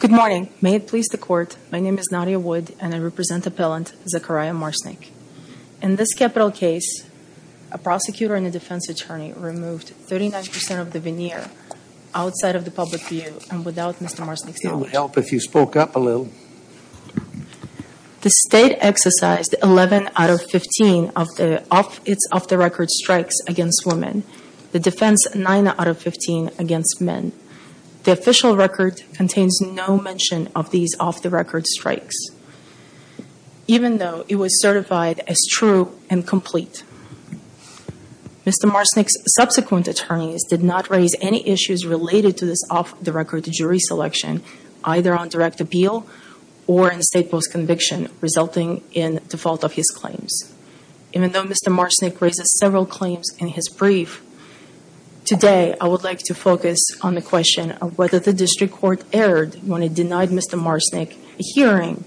Good morning. May it please the court, my name is Nadia Wood and I represent appellant Zachariah Marcyniuk. In this capital case, a prosecutor and a defense attorney removed 39% of the veneer outside of the public view and without Mr. Marcyniuk's knowledge. The state exercised 11 out of 15 of its off-the-record strikes against women, the defense 9 out of 15 against men. The official record contains no mention of these off-the-record strikes, even though it was certified as true and complete. Mr. Marcyniuk's subsequent attorneys did not raise any issues related to this off-the-record jury selection, either on direct appeal or in state post-conviction, resulting in default of his claims. Even though Mr. Marcyniuk raises several claims in his brief, today I would like to focus on the question of whether the district court erred when it denied Mr. Marcyniuk a hearing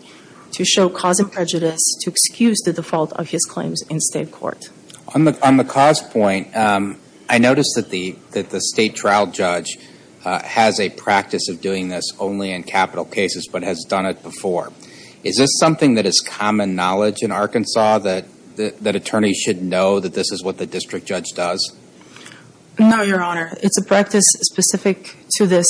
to show cause of prejudice to excuse the default of his claims in state court. On the cause point, I noticed that the state trial judge has a practice of doing this only in capital cases, but has done it before. Is this something that is common knowledge in Arkansas, that attorneys should know that this is what the district judge does? No, Your Honor. It's a practice specific to this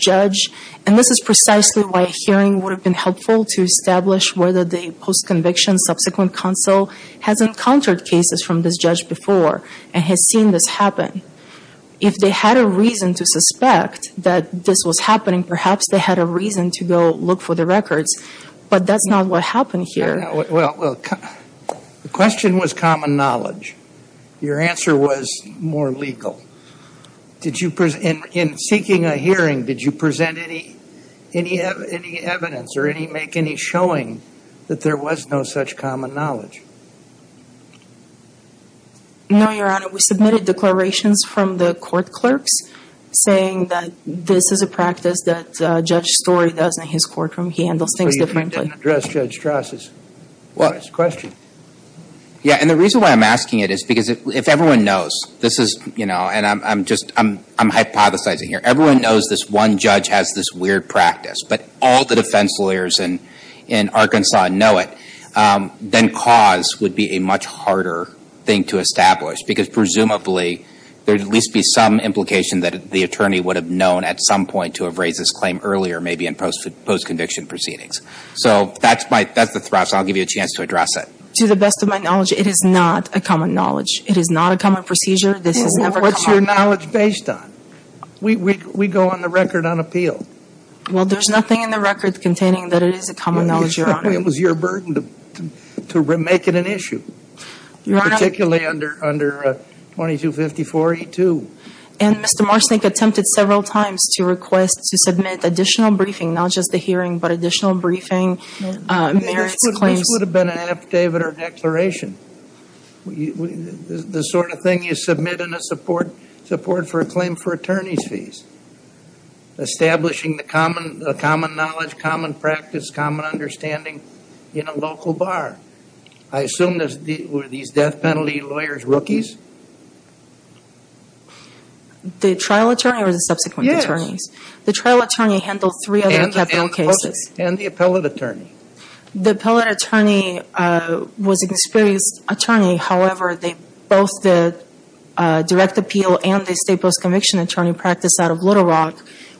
judge, and this is precisely why a hearing would have been helpful to establish whether the post-conviction subsequent counsel has encountered cases from this judge before and has seen this happen. If they had a reason to suspect that this was happening, perhaps they had a reason to go look for the records, but that's not what happened here. The question was common knowledge. Your answer was more legal. In seeking a hearing, did you present any evidence or make any showing that there was no such common knowledge? No, Your Honor. We submitted declarations from the court clerks saying that this is a practice that Judge Story does in his courtroom. He handles things differently. So you didn't address Judge Strasse's question? Yeah, and the reason why I'm asking it is because if everyone knows, this is, you know, and I'm hypothesizing here, everyone knows this one judge has this weird practice, but all the defense lawyers in Arkansas know it, then cause would be a much harder thing to establish because presumably there would at least be some implication that the attorney would have known at some point to have raised this claim earlier, maybe in post-conviction proceedings. So that's the thrust. I'll give you a chance to address it. To the best of my knowledge, it is not a common knowledge. It is not a common procedure. What's your knowledge based on? We go on the record unappealed. Well, there's nothing in the record containing that it is a common knowledge, Your Honor. It was your burden to make it an issue, particularly under 2254E2. And Mr. Marsnik attempted several times to request to submit additional briefing, not just the hearing, but additional briefing, merits, claims. This would have been an affidavit or declaration, the sort of thing you submit in a support for a claim for attorney's fees, establishing the common knowledge, common practice, common understanding in a local bar. I assume were these death penalty lawyers rookies? The trial attorney or the subsequent attorneys? Yes. The trial attorney handled three of the Kepler cases. And the appellate attorney. The appellate attorney was an experienced attorney. However, both the direct appeal and the state post-conviction attorney practiced out of Little Rock,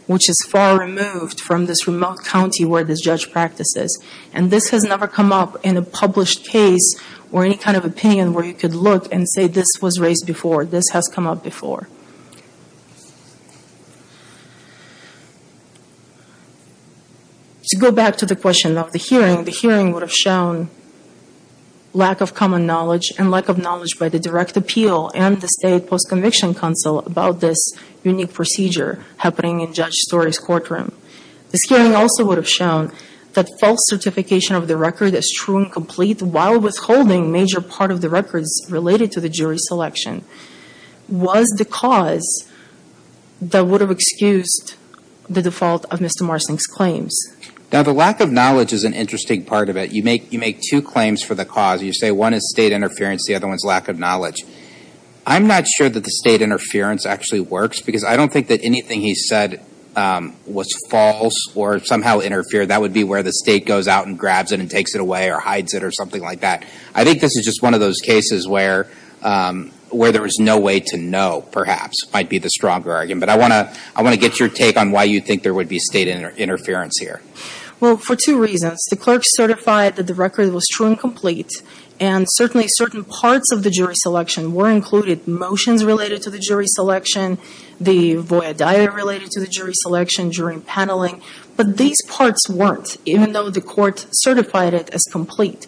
which is far removed from this remote county where this judge practices. And this has never come up in a published case or any kind of opinion where you could look and say this was raised before. This has come up before. To go back to the question of the hearing, the hearing would have shown lack of common knowledge and lack of knowledge by the direct appeal and the state post-conviction counsel about this unique procedure happening in Judge Story's courtroom. This hearing also would have shown that false certification of the record as true and complete while withholding major part of the records related to the jury selection was the cause that would have excused the default of Mr. Marcink's claims. Now, the lack of knowledge is an interesting part of it. You make two claims for the cause. You say one is state interference, the other one is lack of knowledge. I'm not sure that the state interference actually works because I don't think that anything he said was false or somehow interfered. That would be where the state goes out and grabs it and takes it away or hides it or something like that. I think this is just one of those cases where there is no way to know, perhaps, might be the stronger argument. But I want to get your take on why you think there would be state interference here. Well, for two reasons. First, the clerk certified that the record was true and complete, and certainly certain parts of the jury selection were included, motions related to the jury selection, the voyadaya related to the jury selection during paneling. But these parts weren't, even though the court certified it as complete.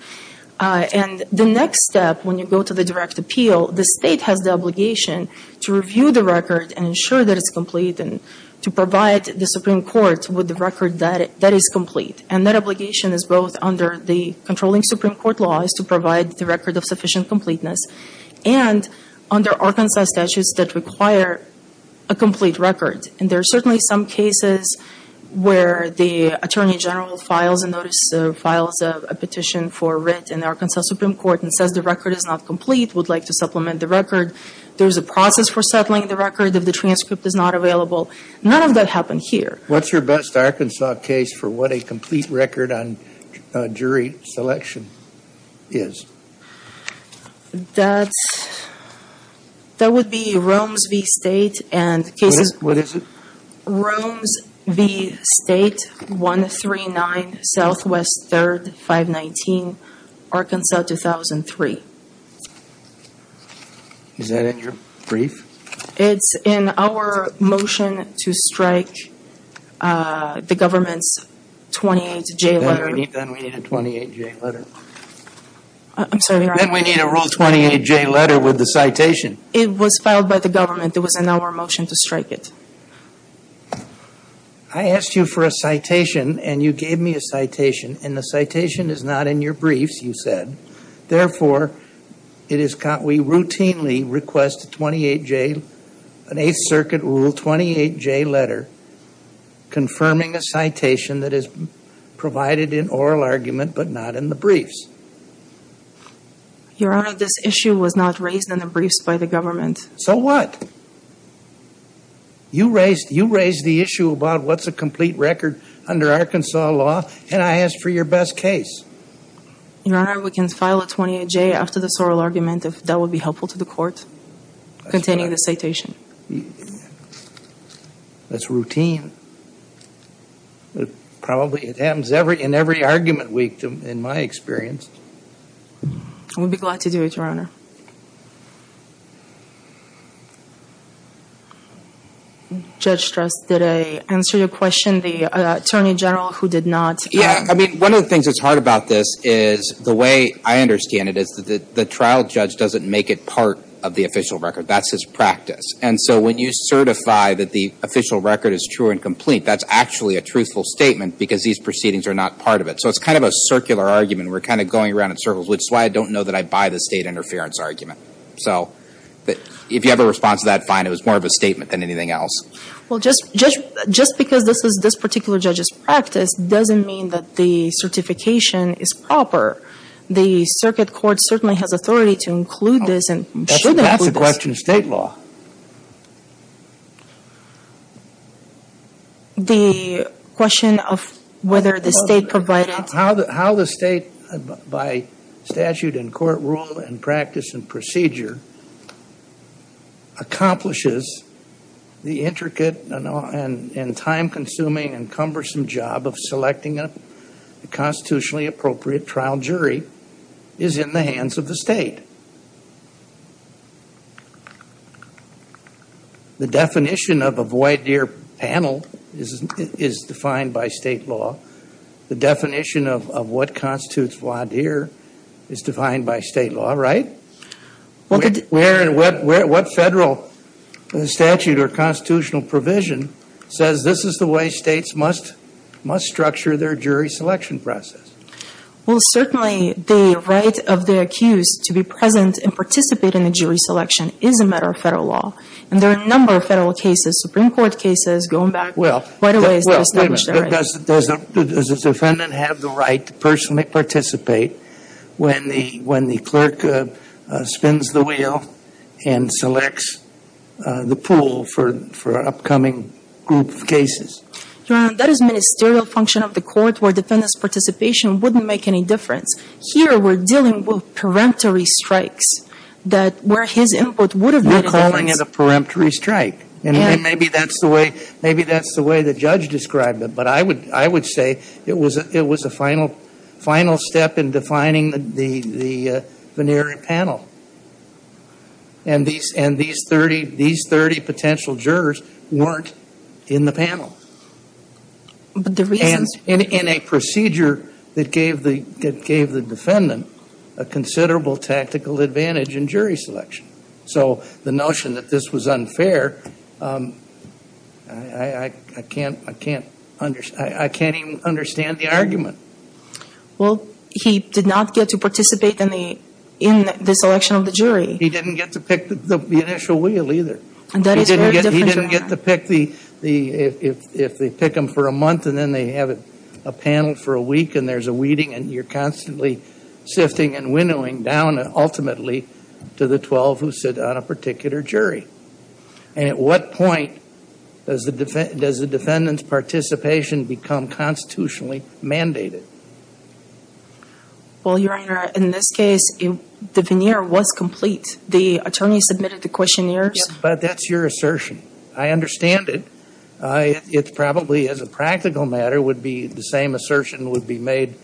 And the next step, when you go to the direct appeal, the state has the obligation to review the record and ensure that it's complete and to provide the Supreme Court with the record that is complete. And that obligation is both under the controlling Supreme Court laws to provide the record of sufficient completeness and under Arkansas statutes that require a complete record. And there are certainly some cases where the attorney general files a notice, files a petition for writ in the Arkansas Supreme Court and says the record is not complete, would like to supplement the record. There is a process for settling the record if the transcript is not available. None of that happened here. What's your best Arkansas case for what a complete record on jury selection is? That would be Rooms v. State and cases. What is it? Rooms v. State, 139 Southwest 3rd, 519, Arkansas 2003. Is that in your brief? It's in our motion to strike the government's 28-J letter. Then we need a 28-J letter. I'm sorry. Then we need a Rule 28-J letter with the citation. It was filed by the government. It was in our motion to strike it. I asked you for a citation, and you gave me a citation, and the citation is not in your briefs, you said. Therefore, we routinely request an Eighth Circuit Rule 28-J letter confirming a citation that is provided in oral argument but not in the briefs. Your Honor, this issue was not raised in the briefs by the government. So what? You raised the issue about what's a complete record under Arkansas law, and I asked for your best case. Your Honor, we can file a 28-J after the sorrel argument, if that would be helpful to the Court, containing the citation. That's routine. Probably it happens in every argument week, in my experience. I would be glad to do it, Your Honor. Judge Struss, did I answer your question? The Attorney General, who did not. Yeah, I mean, one of the things that's hard about this is the way I understand it is that the trial judge doesn't make it part of the official record. That's his practice. And so when you certify that the official record is true and complete, that's actually a truthful statement because these proceedings are not part of it. So it's kind of a circular argument. We're kind of going around in circles, which is why I don't know that I buy the state interference argument. So if you have a response to that, fine. It was more of a statement than anything else. Well, just because this is this particular judge's practice doesn't mean that the certification is proper. The circuit court certainly has authority to include this and should include this. That's the question of state law. The question of whether the state provided. How the state, by statute and court rule and practice and procedure, accomplishes the intricate and time-consuming and cumbersome job of selecting a constitutionally appropriate trial jury is in the hands of the state. The definition of a voir dire panel is defined by state law. The definition of what constitutes voir dire is defined by state law, right? What federal statute or constitutional provision says this is the way states must structure their jury selection process? Well, certainly the right of the accused to be present and participate in the jury selection is a matter of federal law. And there are a number of federal cases, Supreme Court cases, going back quite a ways to establish their right. Does the defendant have the right to personally participate when the clerk spins the wheel and selects the pool for an upcoming group of cases? Your Honor, that is a ministerial function of the court where defendant's participation wouldn't make any difference. Here we're dealing with peremptory strikes where his input would have made a difference. You're calling it a peremptory strike. And maybe that's the way the judge described it. But I would say it was a final step in defining the voir dire panel. And these 30 potential jurors weren't in the panel. And in a procedure that gave the defendant a considerable tactical advantage in jury selection. So the notion that this was unfair, I can't even understand the argument. Well, he did not get to participate in the selection of the jury. He didn't get to pick the initial wheel either. He didn't get to pick the, if they pick them for a month and then they have a panel for a week and there's a weeding and you're constantly sifting and winnowing down ultimately to the 12 who sit on a particular jury. And at what point does the defendant's participation become constitutionally mandated? Well, Your Honor, in this case, the veneer was complete. The attorney submitted the questionnaires. But that's your assertion. I understand it. It probably, as a practical matter, would be the same assertion would be made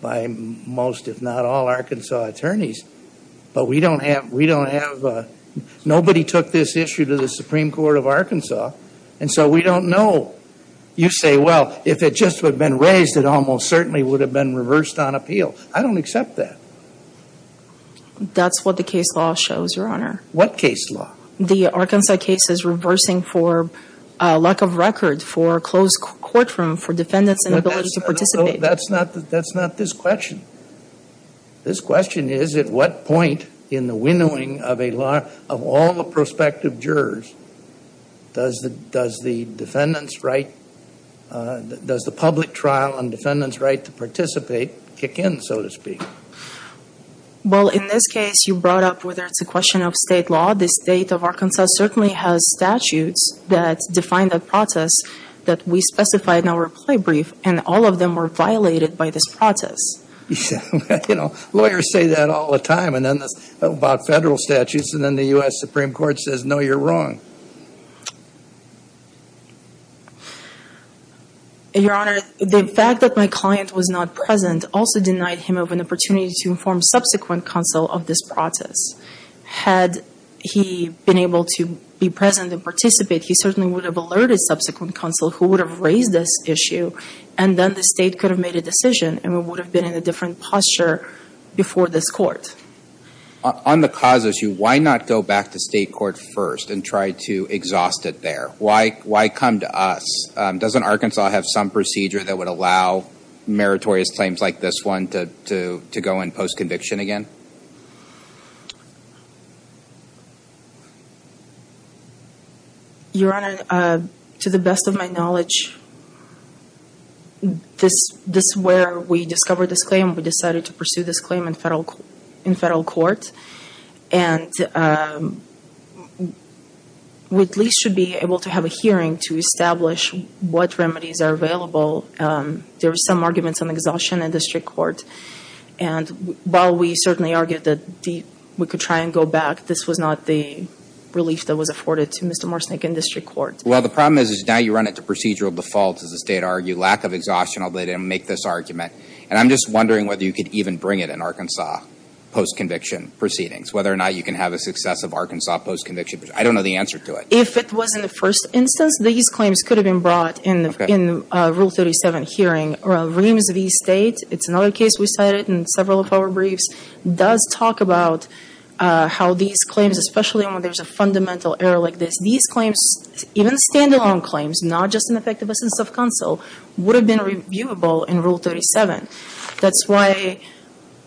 by most, if not all, Arkansas attorneys. But we don't have, nobody took this issue to the Supreme Court of Arkansas. And so we don't know. You say, well, if it just would have been raised, it almost certainly would have been reversed on appeal. I don't accept that. That's what the case law shows, Your Honor. What case law? The Arkansas case is reversing for lack of record, for closed courtroom, for defendants inability to participate. That's not this question. This question is at what point in the winnowing of all the prospective jurors does the defendant's right, does the public trial on defendant's right to participate kick in, so to speak? Well, in this case, you brought up whether it's a question of state law. The state of Arkansas certainly has statutes that define the process that we specified in our reply brief. And all of them were violated by this process. You know, lawyers say that all the time about federal statutes. And then the U.S. Supreme Court says, no, you're wrong. Your Honor, the fact that my client was not present also denied him of an opportunity to inform subsequent counsel of this process. Had he been able to be present and participate, he certainly would have alerted subsequent counsel who would have raised this issue, and then the state could have made a decision, and we would have been in a different posture before this court. On the cause issue, why not go back to state court first and try to exhaust it there? Why come to us? Doesn't Arkansas have some procedure that would allow meritorious claims like this one to go in post-conviction again? Your Honor, to the best of my knowledge, this is where we discovered this claim. We decided to pursue this claim in federal court. And we at least should be able to have a hearing to establish what remedies are available. There were some arguments on exhaustion in district court. And while we certainly argued that we could try and go back, this was not the relief that was afforded to Mr. Morsnik in district court. Well, the problem is, is now you run it to procedural default, as the state argued. Lack of exhaustion, although they didn't make this argument. And I'm just wondering whether you could even bring it in Arkansas post-conviction proceedings, whether or not you can have a success of Arkansas post-conviction. I don't know the answer to it. If it was in the first instance, these claims could have been brought in Rule 37 hearing. Reams v. State, it's another case we cited in several of our briefs, does talk about how these claims, especially when there's a fundamental error like this, these claims, even stand-alone claims, not just in effect of a sense of counsel, would have been reviewable in Rule 37. That's why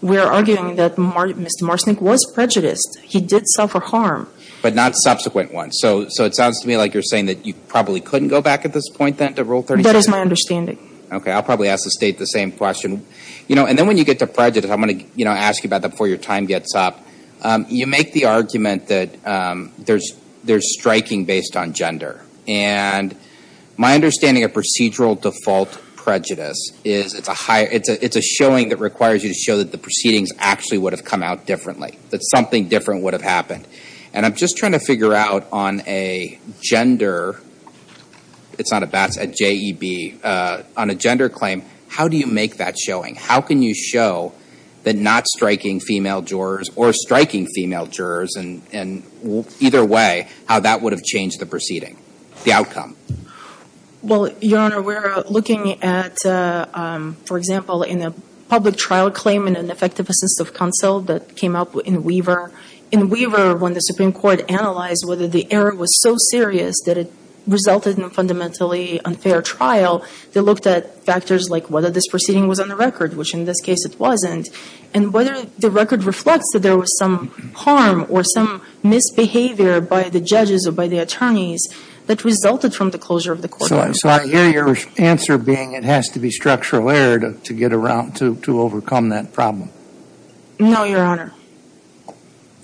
we're arguing that Mr. Morsnik was prejudiced. He did suffer harm. But not subsequent ones. So it sounds to me like you're saying that you probably couldn't go back at this point then to Rule 37? That is my understanding. Okay, I'll probably ask the State the same question. And then when you get to prejudice, I'm going to ask you about that before your time gets up. You make the argument that there's striking based on gender. And my understanding of procedural default prejudice is it's a showing that requires you to show that the proceedings actually would have come out differently, that something different would have happened. And I'm just trying to figure out on a gender, it's not a BATS, a JEB, on a gender claim, how do you make that showing? How can you show that not striking female jurors or striking female jurors, and either way, how that would have changed the proceeding, the outcome? Well, Your Honor, we're looking at, for example, in a public trial claim in an effect of a sense of counsel that came up in Weaver. In Weaver, when the Supreme Court analyzed whether the error was so serious that it resulted in a fundamentally unfair trial, they looked at factors like whether this proceeding was on the record, which in this case it wasn't, and whether the record reflects that there was some harm or some misbehavior by the judges or by the attorneys that resulted from the closure of the courtroom. So I hear your answer being it has to be structural error to get around to overcome that problem. No, Your Honor.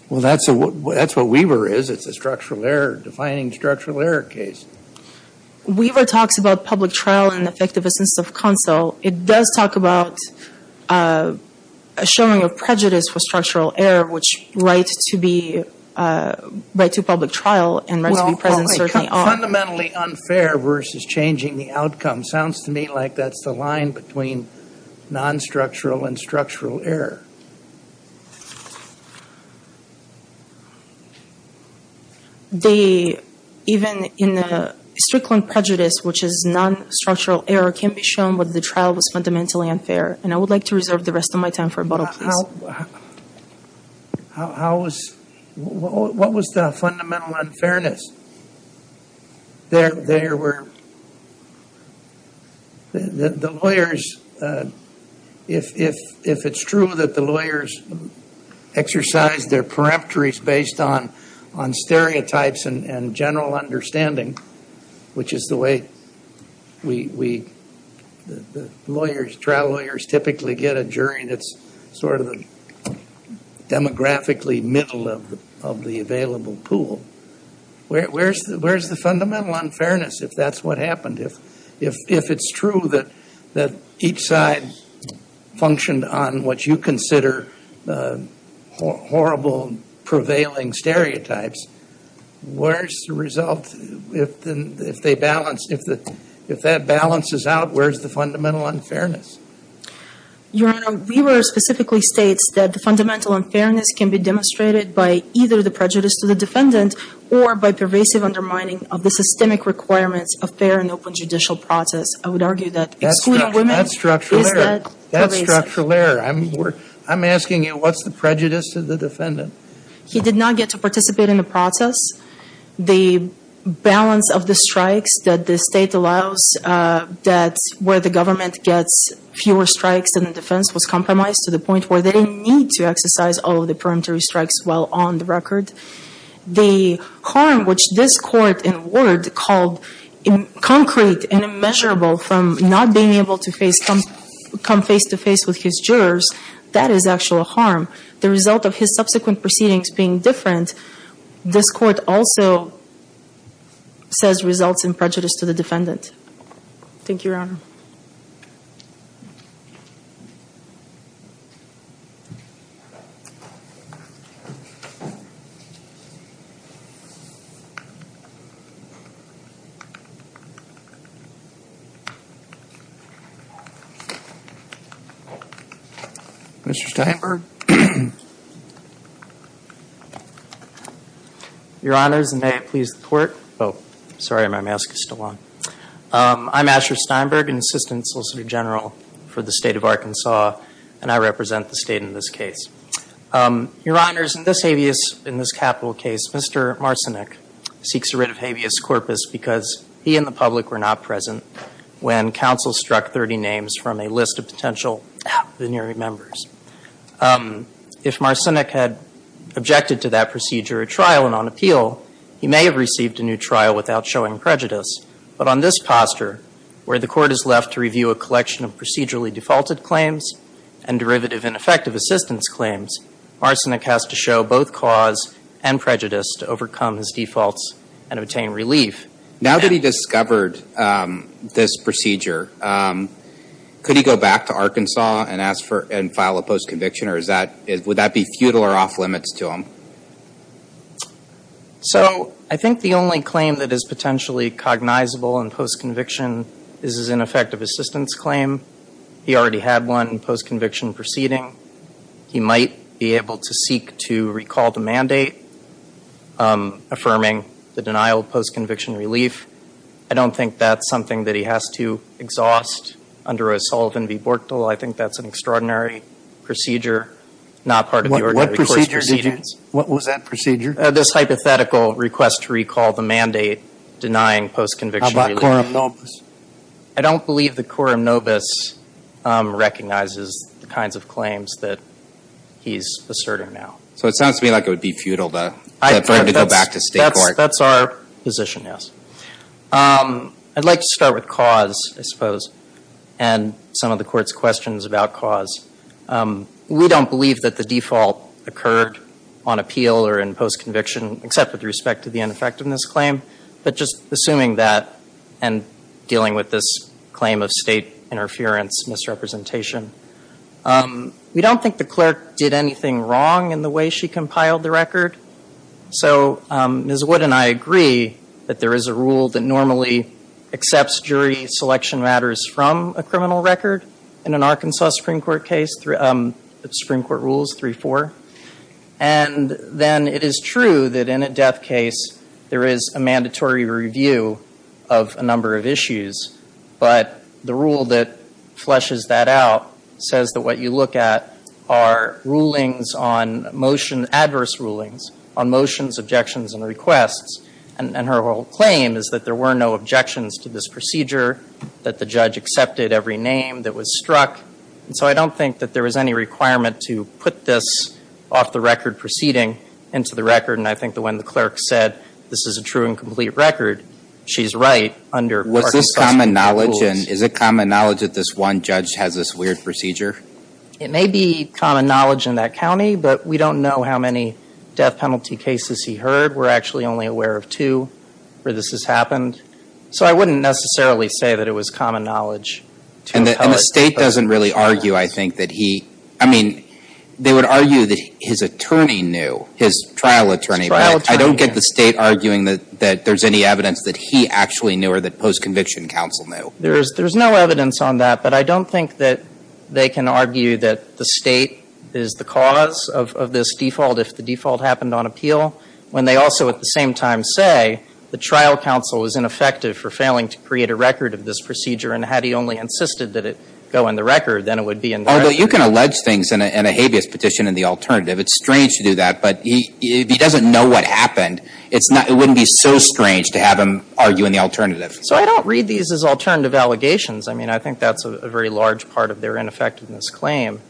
Well, that's what Weaver is. It's a structural error, defining structural error case. Weaver talks about public trial in effect of a sense of counsel. It does talk about a showing of prejudice for structural error, which right to public trial and right to be present certainly are. Fundamentally unfair versus changing the outcome. Sounds to me like that's the line between non-structural and structural error. They, even in the Strickland prejudice, which is non-structural error, can be shown whether the trial was fundamentally unfair. And I would like to reserve the rest of my time for rebuttal, please. How was, what was the fundamental unfairness? There were, the lawyers, if it's true that the lawyers exercise their peripheries based on stereotypes and general understanding, which is the way we, the lawyers, trial lawyers typically get a jury that's sort of demographically middle of the available pool. Where's the fundamental unfairness if that's what happened? If it's true that each side functioned on what you consider horrible, prevailing stereotypes, where's the result if they balance, if that balances out, where's the fundamental unfairness? Your Honor, Weaver specifically states that the fundamental unfairness can be demonstrated by either the prejudice to the defendant or by pervasive undermining of the systemic requirements of fair and open judicial process. I would argue that excluding women is that pervasive. That's structural error. I'm asking you, what's the prejudice to the defendant? He did not get to participate in the process. The balance of the strikes that the State allows, that's where the government gets fewer strikes than the defense, to the point where they need to exercise all of the peremptory strikes while on the record. The harm, which this Court in a word called concrete and immeasurable from not being able to come face-to-face with his jurors, that is actual harm. The result of his subsequent proceedings being different, this Court also says results in prejudice to the defendant. Thank you, Your Honor. Mr. Steinberg. Your Honors, and may it please the Court. Oh, sorry, my mask is still on. I'm Asher Steinberg, an Assistant Solicitor General for the State of Arkansas, and I represent the State in this case. Your Honors, in this habeas, in this capital case, Mr. Marcinek seeks a writ of habeas corpus because he and the public were not present when counsel struck 30 names from a list of potential veneering members. If Marcinek had objected to that procedure at trial and on appeal, he may have received a new trial without showing prejudice. But on this posture, where the Court is left to review a collection of procedurally defaulted claims and derivative ineffective assistance claims, Marcinek has to show both cause and prejudice to overcome his defaults and obtain relief. Now that he discovered this procedure, could he go back to Arkansas and file a post-conviction, or would that be futile or off-limits to him? So I think the only claim that is potentially cognizable in post-conviction is his ineffective assistance claim. He already had one in post-conviction proceeding. He might be able to seek to recall the mandate affirming the denial of post-conviction relief. I don't think that's something that he has to exhaust under a Sullivan v. Bortel. I think that's an extraordinary procedure, not part of the ordinary court's proceedings. What was that procedure? This hypothetical request to recall the mandate denying post-conviction relief. How about quorum nobis? I don't believe the quorum nobis recognizes the kinds of claims that he's asserting now. So it sounds to me like it would be futile to go back to state court. That's our position, yes. I'd like to start with cause, I suppose, and some of the court's questions about cause. We don't believe that the default occurred on appeal or in post-conviction, except with respect to the ineffectiveness claim. But just assuming that and dealing with this claim of state interference misrepresentation. We don't think the clerk did anything wrong in the way she compiled the record. So Ms. Wood and I agree that there is a rule that normally accepts jury selection matters from a criminal record. In an Arkansas Supreme Court case, the Supreme Court rules 3-4. And then it is true that in a death case, there is a mandatory review of a number of issues. But the rule that fleshes that out says that what you look at are rulings on motion, adverse rulings on motions, objections, and requests. And her whole claim is that there were no objections to this procedure, that the judge accepted every name that was struck. And so I don't think that there was any requirement to put this off-the-record proceeding into the record. And I think that when the clerk said, this is a true and complete record, she's right under Arkansas Supreme Court rules. Was this common knowledge? And is it common knowledge that this one judge has this weird procedure? It may be common knowledge in that county, but we don't know how many death penalty cases he heard. We're actually only aware of two where this has happened. And the State doesn't really argue, I think, that he – I mean, they would argue that his attorney knew, his trial attorney. His trial attorney, yes. But I don't get the State arguing that there's any evidence that he actually knew or that post-conviction counsel knew. There's no evidence on that. But I don't think that they can argue that the State is the cause of this default if the default happened on appeal, when they also at the same time say the trial counsel was ineffective for failing to create a record of this procedure and had he only insisted that it go in the record, then it would be in the record. Although you can allege things in a habeas petition in the alternative. It's strange to do that. But if he doesn't know what happened, it wouldn't be so strange to have him argue in the alternative. So I don't read these as alternative allegations. I mean, I think that's a very large part of their ineffectiveness claim,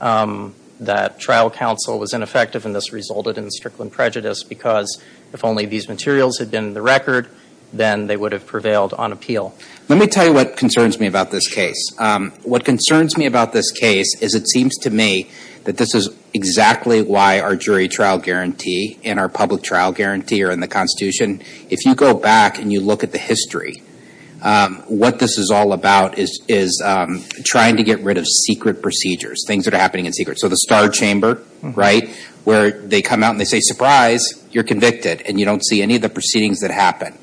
that trial counsel was ineffective and this resulted in the Strickland prejudice because if only these materials had been in the record, then they would have prevailed on appeal. Let me tell you what concerns me about this case. What concerns me about this case is it seems to me that this is exactly why our jury trial guarantee and our public trial guarantee are in the Constitution. If you go back and you look at the history, what this is all about is trying to get rid of secret procedures, things that are happening in secret. So the star chamber, right, where they come out and they say, surprise, you're convicted, and you don't see any of the proceedings that happen.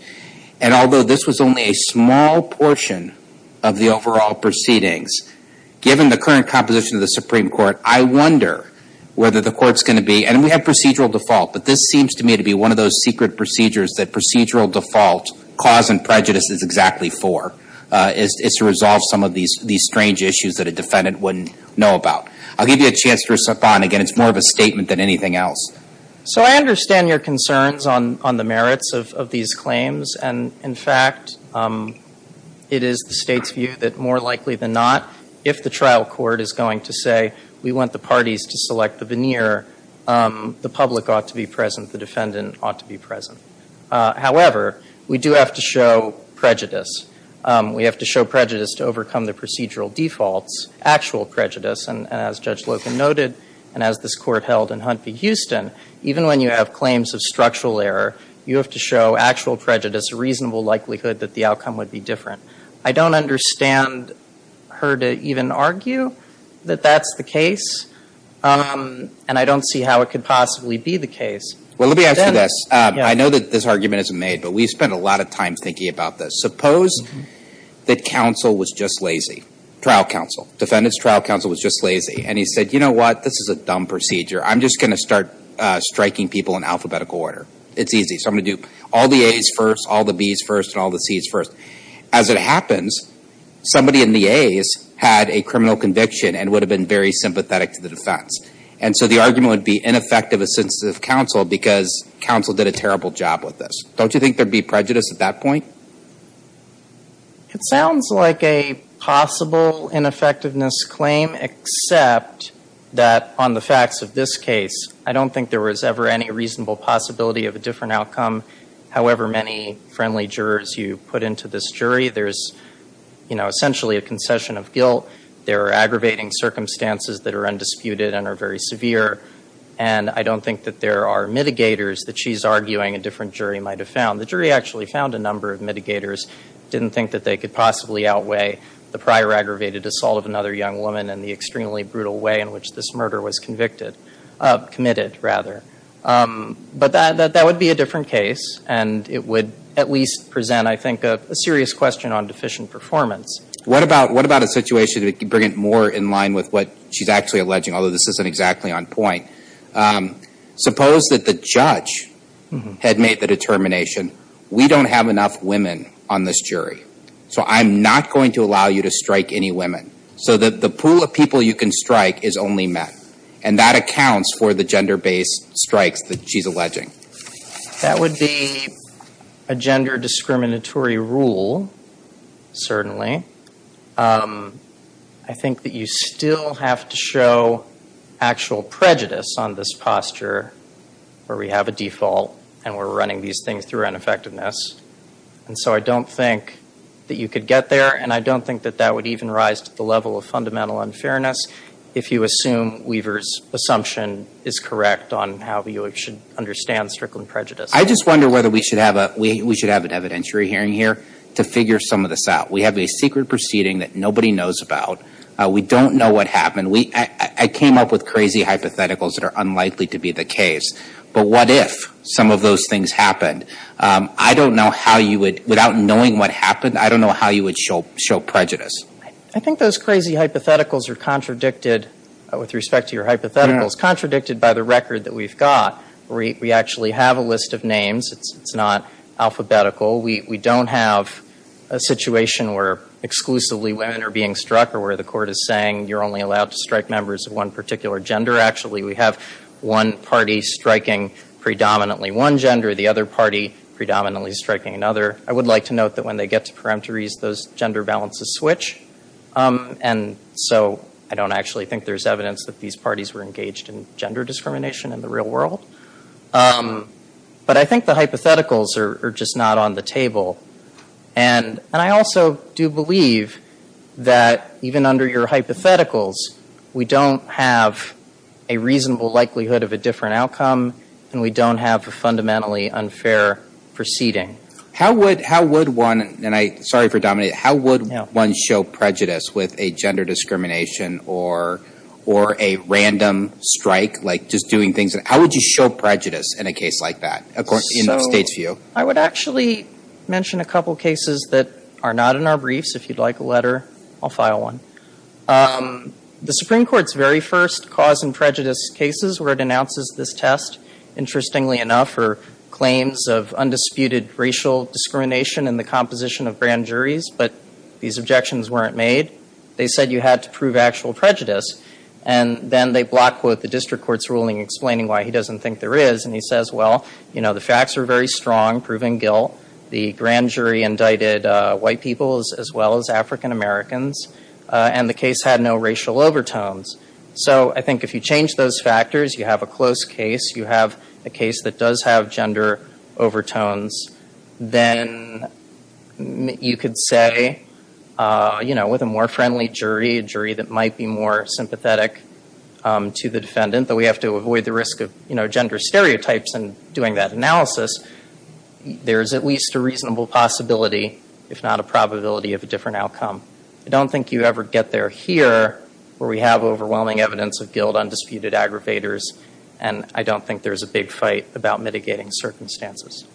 And although this was only a small portion of the overall proceedings, given the current composition of the Supreme Court, I wonder whether the court's going to be, and we have procedural default, but this seems to me to be one of those secret procedures that procedural default, cause and prejudice is exactly for, is to resolve some of these strange issues that a defendant wouldn't know about. I'll give you a chance to respond. Again, it's more of a statement than anything else. So I understand your concerns on the merits of these claims. And in fact, it is the State's view that more likely than not, if the trial court is going to say we want the parties to select the veneer, the public ought to be present, the defendant ought to be present. However, we do have to show prejudice. We have to show prejudice to overcome the procedural defaults, actual prejudice. And as Judge Loken noted, and as this Court held in Hunt v. Houston, even when you have claims of structural error, you have to show actual prejudice, a reasonable likelihood that the outcome would be different. I don't understand her to even argue that that's the case, and I don't see how it could possibly be the case. Well, let me ask you this. I know that this argument isn't made, but we've spent a lot of time thinking about this. Suppose that counsel was just lazy, trial counsel. Defendant's trial counsel was just lazy, and he said, you know what, this is a dumb procedure. I'm just going to start striking people in alphabetical order. It's easy. So I'm going to do all the A's first, all the B's first, and all the C's first. As it happens, somebody in the A's had a criminal conviction and would have been very sympathetic to the defense. And so the argument would be ineffective as sensitive counsel because counsel did a terrible job with this. Don't you think there would be prejudice at that point? It sounds like a possible ineffectiveness claim, except that on the facts of this case, I don't think there was ever any reasonable possibility of a different outcome. However many friendly jurors you put into this jury, there's essentially a concession of guilt. There are aggravating circumstances that are undisputed and are very severe, and I don't think that there are mitigators that she's arguing a different jury might have found. The jury actually found a number of mitigators, didn't think that they could possibly outweigh the prior aggravated assault of another young woman and the extremely brutal way in which this murder was convicted, committed rather. But that would be a different case, and it would at least present, I think, a serious question on deficient performance. What about a situation to bring it more in line with what she's actually alleging, although this isn't exactly on point? Suppose that the judge had made the determination, we don't have enough women on this jury, so I'm not going to allow you to strike any women. So the pool of people you can strike is only men, and that accounts for the gender-based strikes that she's alleging. That would be a gender discriminatory rule, certainly. I think that you still have to show actual prejudice on this posture, where we have a default and we're running these things through ineffectiveness. And so I don't think that you could get there, and I don't think that that would even rise to the level of fundamental unfairness if you assume Weaver's assumption is correct on how you should understand strickling prejudice. I just wonder whether we should have an evidentiary hearing here to figure some of this out. We have a secret proceeding that nobody knows about. We don't know what happened. I came up with crazy hypotheticals that are unlikely to be the case, but what if some of those things happened? I don't know how you would, without knowing what happened, I don't know how you would show prejudice. I think those crazy hypotheticals are contradicted, with respect to your hypotheticals, contradicted by the record that we've got. We actually have a list of names. It's not alphabetical. We don't have a situation where exclusively women are being struck or where the court is saying you're only allowed to strike members of one particular gender. Actually, we have one party striking predominantly one gender, the other party predominantly striking another. I would like to note that when they get to peremptories, those gender balances switch, and so I don't actually think there's evidence that these parties were engaged in gender discrimination in the real world. But I think the hypotheticals are just not on the table, and I also do believe that even under your hypotheticals, we don't have a reasonable likelihood of a different outcome and we don't have a fundamentally unfair proceeding. How would one, and I'm sorry for dominating, how would one show prejudice with a gender discrimination or a random strike, how would you show prejudice in a case like that in the state's view? I would actually mention a couple cases that are not in our briefs. If you'd like a letter, I'll file one. The Supreme Court's very first cause and prejudice cases where it announces this test, interestingly enough, are claims of undisputed racial discrimination in the composition of grand juries, but these objections weren't made. They said you had to prove actual prejudice, and then they block quote the district court's ruling explaining why he doesn't think there is, and he says, well, you know, the facts are very strong, proven guilt. The grand jury indicted white people as well as African Americans, and the case had no racial overtones. So I think if you change those factors, you have a close case, you have a case that does have gender overtones, then you could say, you know, with a more friendly jury, a jury that might be more sympathetic to the defendant, though we have to avoid the risk of, you know, gender stereotypes in doing that analysis, there is at least a reasonable possibility, if not a probability, of a different outcome. I don't think you ever get there here where we have overwhelming evidence of guilt, undisputed aggravators, and I don't think there's a big fight about mitigating circumstances.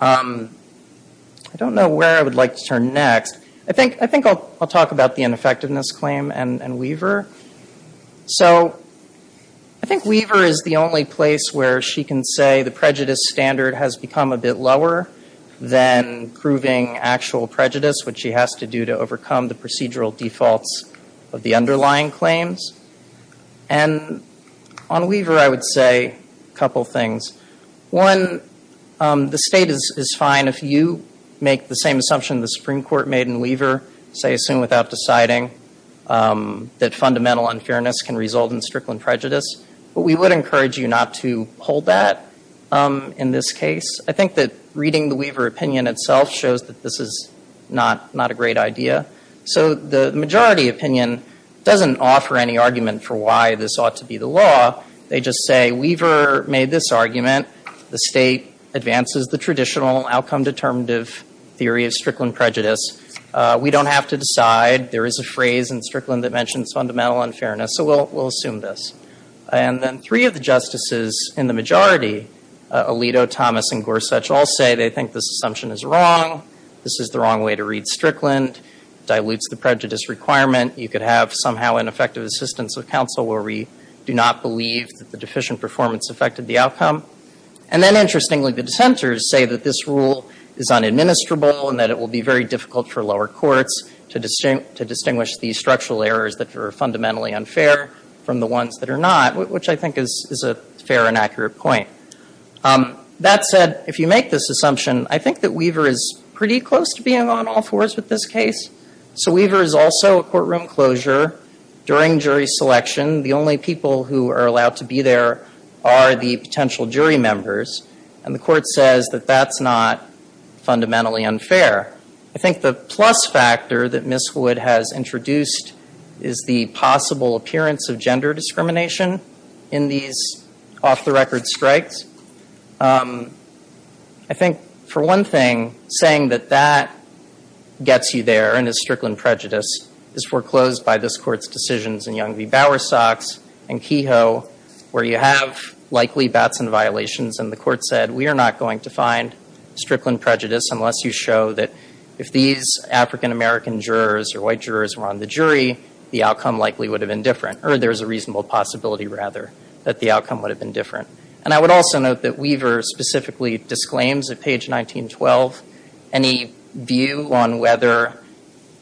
I don't know where I would like to turn next. I think I'll talk about the ineffectiveness claim and Weaver. So I think Weaver is the only place where she can say the prejudice standard has become a bit lower than proving actual prejudice, which she has to do to overcome the procedural defaults of the underlying claims. And on Weaver, I would say a couple things. One, the State is fine if you make the same assumption the Supreme Court made in Weaver, say, assume without deciding that fundamental unfairness can result in strickling prejudice, but we would encourage you not to hold that in this case. I think that reading the Weaver opinion itself shows that this is not a great idea. So the majority opinion doesn't offer any argument for why this ought to be the law. They just say Weaver made this argument. The State advances the traditional outcome-determinative theory of strickland prejudice. We don't have to decide. There is a phrase in strickland that mentions fundamental unfairness, so we'll assume this. And then three of the justices in the majority, Alito, Thomas, and Gorsuch, all say they think this assumption is wrong. This is the wrong way to read strickland. It dilutes the prejudice requirement. You could have somehow an effective assistance of counsel where we do not believe that the deficient performance affected the outcome. And then interestingly, the dissenters say that this rule is unadministrable and that it will be very difficult for lower courts to distinguish these structural errors that are fundamentally unfair from the ones that are not, which I think is a fair and accurate point. That said, if you make this assumption, I think that Weaver is pretty close to being on all fours with this case. So Weaver is also a courtroom closure during jury selection. The only people who are allowed to be there are the potential jury members, and the court says that that's not fundamentally unfair. I think the plus factor that Ms. Wood has introduced is the possible appearance of gender discrimination in these off-the-record strikes. I think for one thing, saying that that gets you there and is strickland prejudice is foreclosed by this court's decisions in Young v. Bowersox and Kehoe, where you have likely bats and violations, and the court said, we are not going to find strickland prejudice unless you show that if these African-American jurors or white jurors were on the jury, the outcome likely would have been different, or there's a reasonable possibility, rather, that the outcome would have been different. And I would also note that Weaver specifically disclaims at page 1912 any view on whether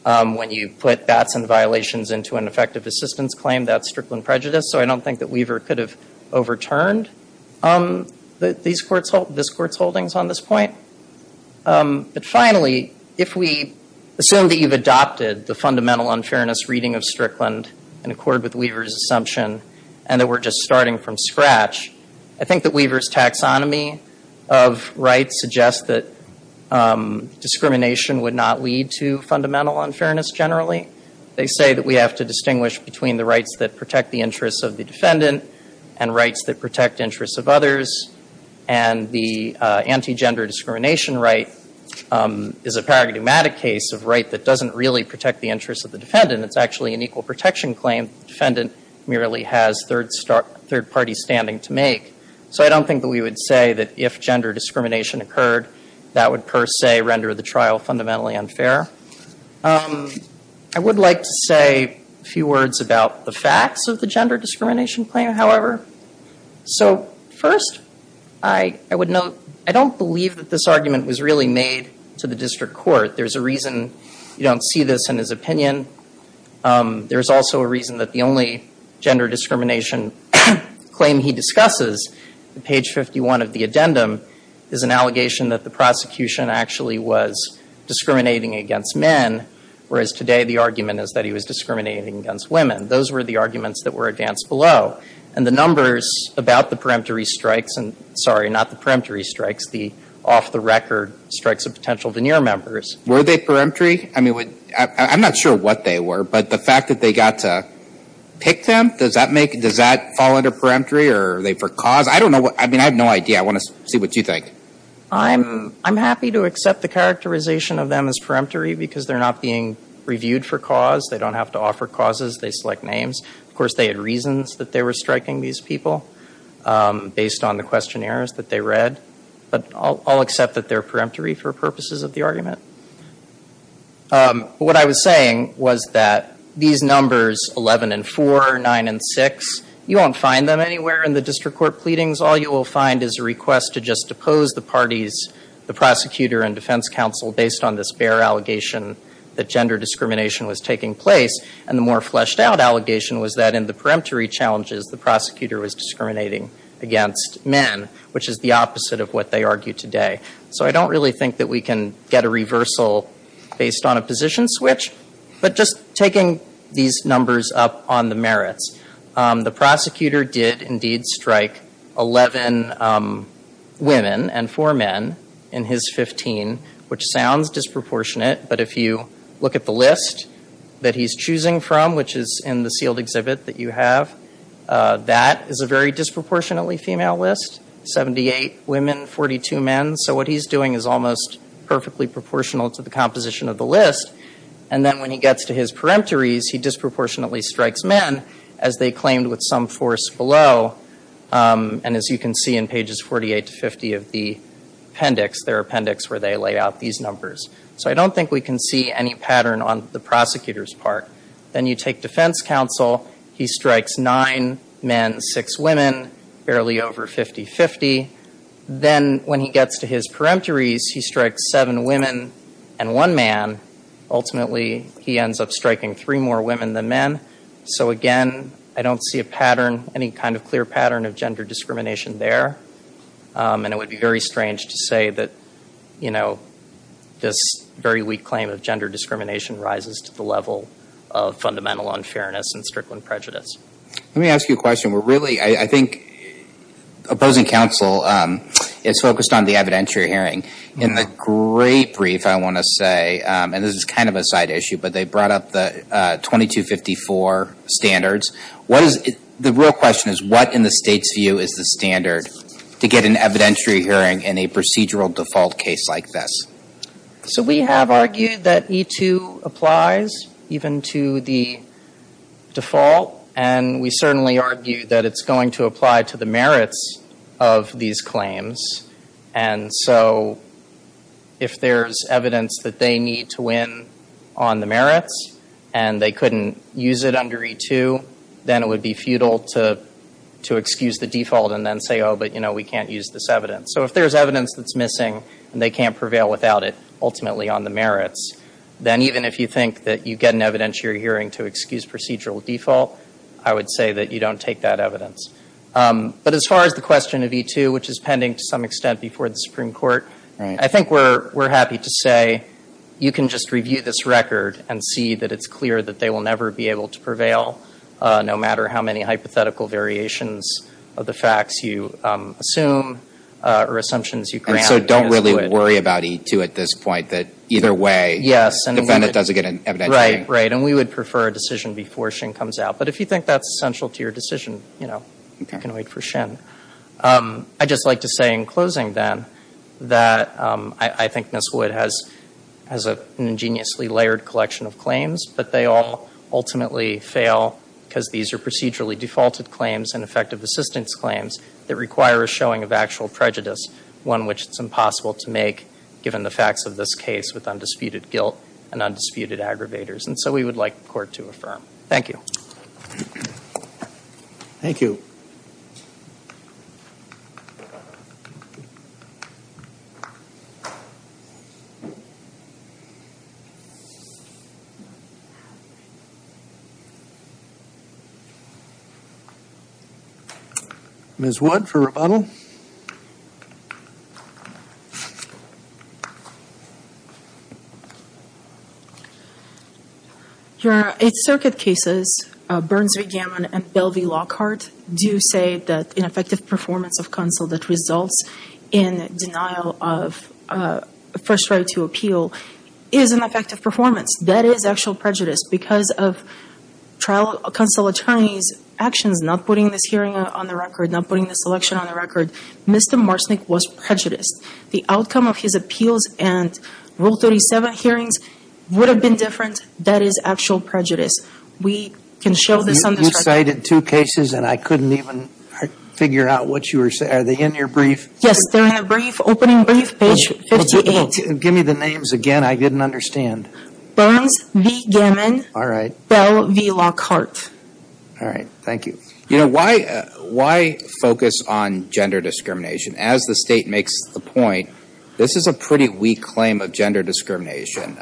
when you put bats and violations into an effective assistance claim, that's strickland prejudice. So I don't think that Weaver could have overturned this court's holdings on this point. But finally, if we assume that you've adopted the fundamental unfairness reading of strickland in accord with Weaver's assumption and that we're just starting from scratch, I think that Weaver's taxonomy of rights suggests that discrimination would not lead to fundamental unfairness generally. They say that we have to distinguish between the rights that protect the interests of the defendant and rights that protect interests of others. And the anti-gender discrimination right is a paradigmatic case of right that doesn't really protect the interests of the defendant. It's actually an equal protection claim. The defendant merely has third-party standing to make. So I don't think that we would say that if gender discrimination occurred, that would per se render the trial fundamentally unfair. I would like to say a few words about the facts of the gender discrimination claim, however. So first, I would note, I don't believe that this argument was really made to the district court. There's a reason you don't see this in his opinion. There's also a reason that the only gender discrimination claim he discusses, page 51 of the addendum, is an allegation that the prosecution actually was discriminating against men, whereas today the argument is that he was discriminating against women. Those were the arguments that were advanced below. And the numbers about the peremptory strikes and, sorry, not the peremptory strikes, the off-the-record strikes of potential veneer members. Were they peremptory? I mean, I'm not sure what they were, but the fact that they got to pick them, does that fall under peremptory or are they for cause? I don't know. I mean, I have no idea. I want to see what you think. I'm happy to accept the characterization of them as peremptory because they're not being reviewed for cause. They don't have to offer causes. They select names. Of course, they had reasons that they were striking these people based on the questionnaires that they read. But I'll accept that they're peremptory for purposes of the argument. What I was saying was that these numbers, 11 and 4, 9 and 6, you won't find them anywhere in the district court pleadings. All you will find is a request to just depose the parties, the prosecutor and defense counsel, based on this bare allegation that gender discrimination was taking place. And the more fleshed-out allegation was that in the peremptory challenges, the prosecutor was discriminating against men, which is the opposite of what they argue today. So I don't really think that we can get a reversal based on a position switch. But just taking these numbers up on the merits, the prosecutor did indeed strike 11 women and 4 men in his 15, which sounds disproportionate, but if you look at the list that he's choosing from, which is in the sealed exhibit that you have, that is a very disproportionately female list. 78 women, 42 men. So what he's doing is almost perfectly proportional to the composition of the list. And then when he gets to his peremptories, he disproportionately strikes men, as they claimed with some force below. And as you can see in pages 48 to 50 of the appendix, their appendix where they lay out these numbers. So I don't think we can see any pattern on the prosecutor's part. Then you take defense counsel. He strikes 9 men, 6 women, barely over 50-50. Then when he gets to his peremptories, he strikes 7 women and 1 man. Ultimately, he ends up striking 3 more women than men. So again, I don't see a pattern, any kind of clear pattern of gender discrimination there. And it would be very strange to say that, you know, this very weak claim of gender discrimination rises to the level of fundamental unfairness and strickling prejudice. Let me ask you a question. Really, I think opposing counsel is focused on the evidentiary hearing. In the great brief, I want to say, and this is kind of a side issue, but they brought up the 2254 standards. The real question is, what in the State's view is the standard to get an evidentiary hearing in a procedural default case like this? So we have argued that E-2 applies even to the default. And we certainly argue that it's going to apply to the merits of these claims. And so if there's evidence that they need to win on the merits and they couldn't use it under E-2, then it would be futile to excuse the default and then say, oh, but, you know, we can't use this evidence. So if there's evidence that's missing and they can't prevail without it, ultimately on the merits, then even if you think that you get an evidentiary hearing to excuse procedural default, I would say that you don't take that evidence. But as far as the question of E-2, which is pending to some extent before the Supreme Court, I think we're happy to say you can just review this record and see that it's clear that they will never be able to prevail, no matter how many hypothetical variations of the facts you assume or assumptions you grant. And so don't really worry about E-2 at this point, that either way the defendant doesn't get an evidentiary hearing. Right, right, and we would prefer a decision before Shin comes out. But if you think that's essential to your decision, you know, you can wait for Shin. I'd just like to say in closing, then, that I think Ms. Wood has an ingeniously layered collection of claims, but they all ultimately fail because these are procedurally defaulted claims and effective assistance claims that require a showing of actual prejudice, one which it's impossible to make, so we would like the Court to affirm. Thank you. Thank you. Ms. Wood for rebuttal. Your Eighth Circuit cases, Burns v. Gammon and Bell v. Lockhart, do say that ineffective performance of counsel that results in denial of first right to appeal is an effective performance. That is actual prejudice because of trial counsel attorneys' actions, not putting this hearing on the record, not putting this election on the record. Mr. Marsnik was prejudiced. The outcome of his appeals and Rule 37 hearings would have been different. That is actual prejudice. We can show this on this record. You cited two cases, and I couldn't even figure out what you were saying. Are they in your brief? Yes, they're in the brief, opening brief, page 58. Give me the names again. I didn't understand. Burns v. Gammon. All right. Bell v. Lockhart. All right. Thank you. You know, why focus on gender discrimination? As the State makes the point, this is a pretty weak claim of gender discrimination.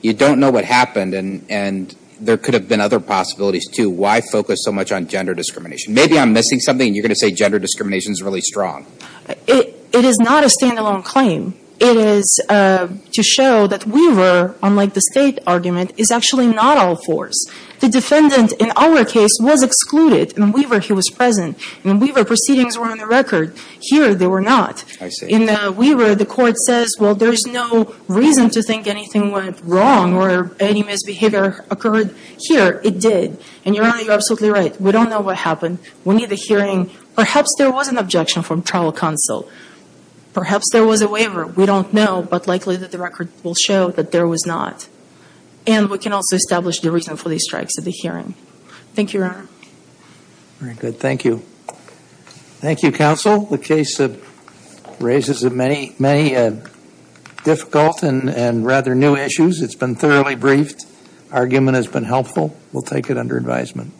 You don't know what happened, and there could have been other possibilities, too. Why focus so much on gender discrimination? Maybe I'm missing something, and you're going to say gender discrimination is really strong. It is not a standalone claim. It is to show that Weaver, unlike the State argument, is actually not all fours. The defendant in our case was excluded. In Weaver, he was present. In Weaver, proceedings were on the record. Here, they were not. I see. In Weaver, the court says, well, there's no reason to think anything went wrong or any misbehavior occurred. Here, it did. And, Your Honor, you're absolutely right. We don't know what happened. We need a hearing. Perhaps there was an objection from trial counsel. Perhaps there was a waiver. We don't know, but likely that the record will show that there was not. And we can also establish the reason for these strikes at the hearing. Thank you, Your Honor. Very good. Thank you. Thank you, counsel. The case raises many difficult and rather new issues. It's been thoroughly briefed. Argument has been helpful. We'll take it under advisement.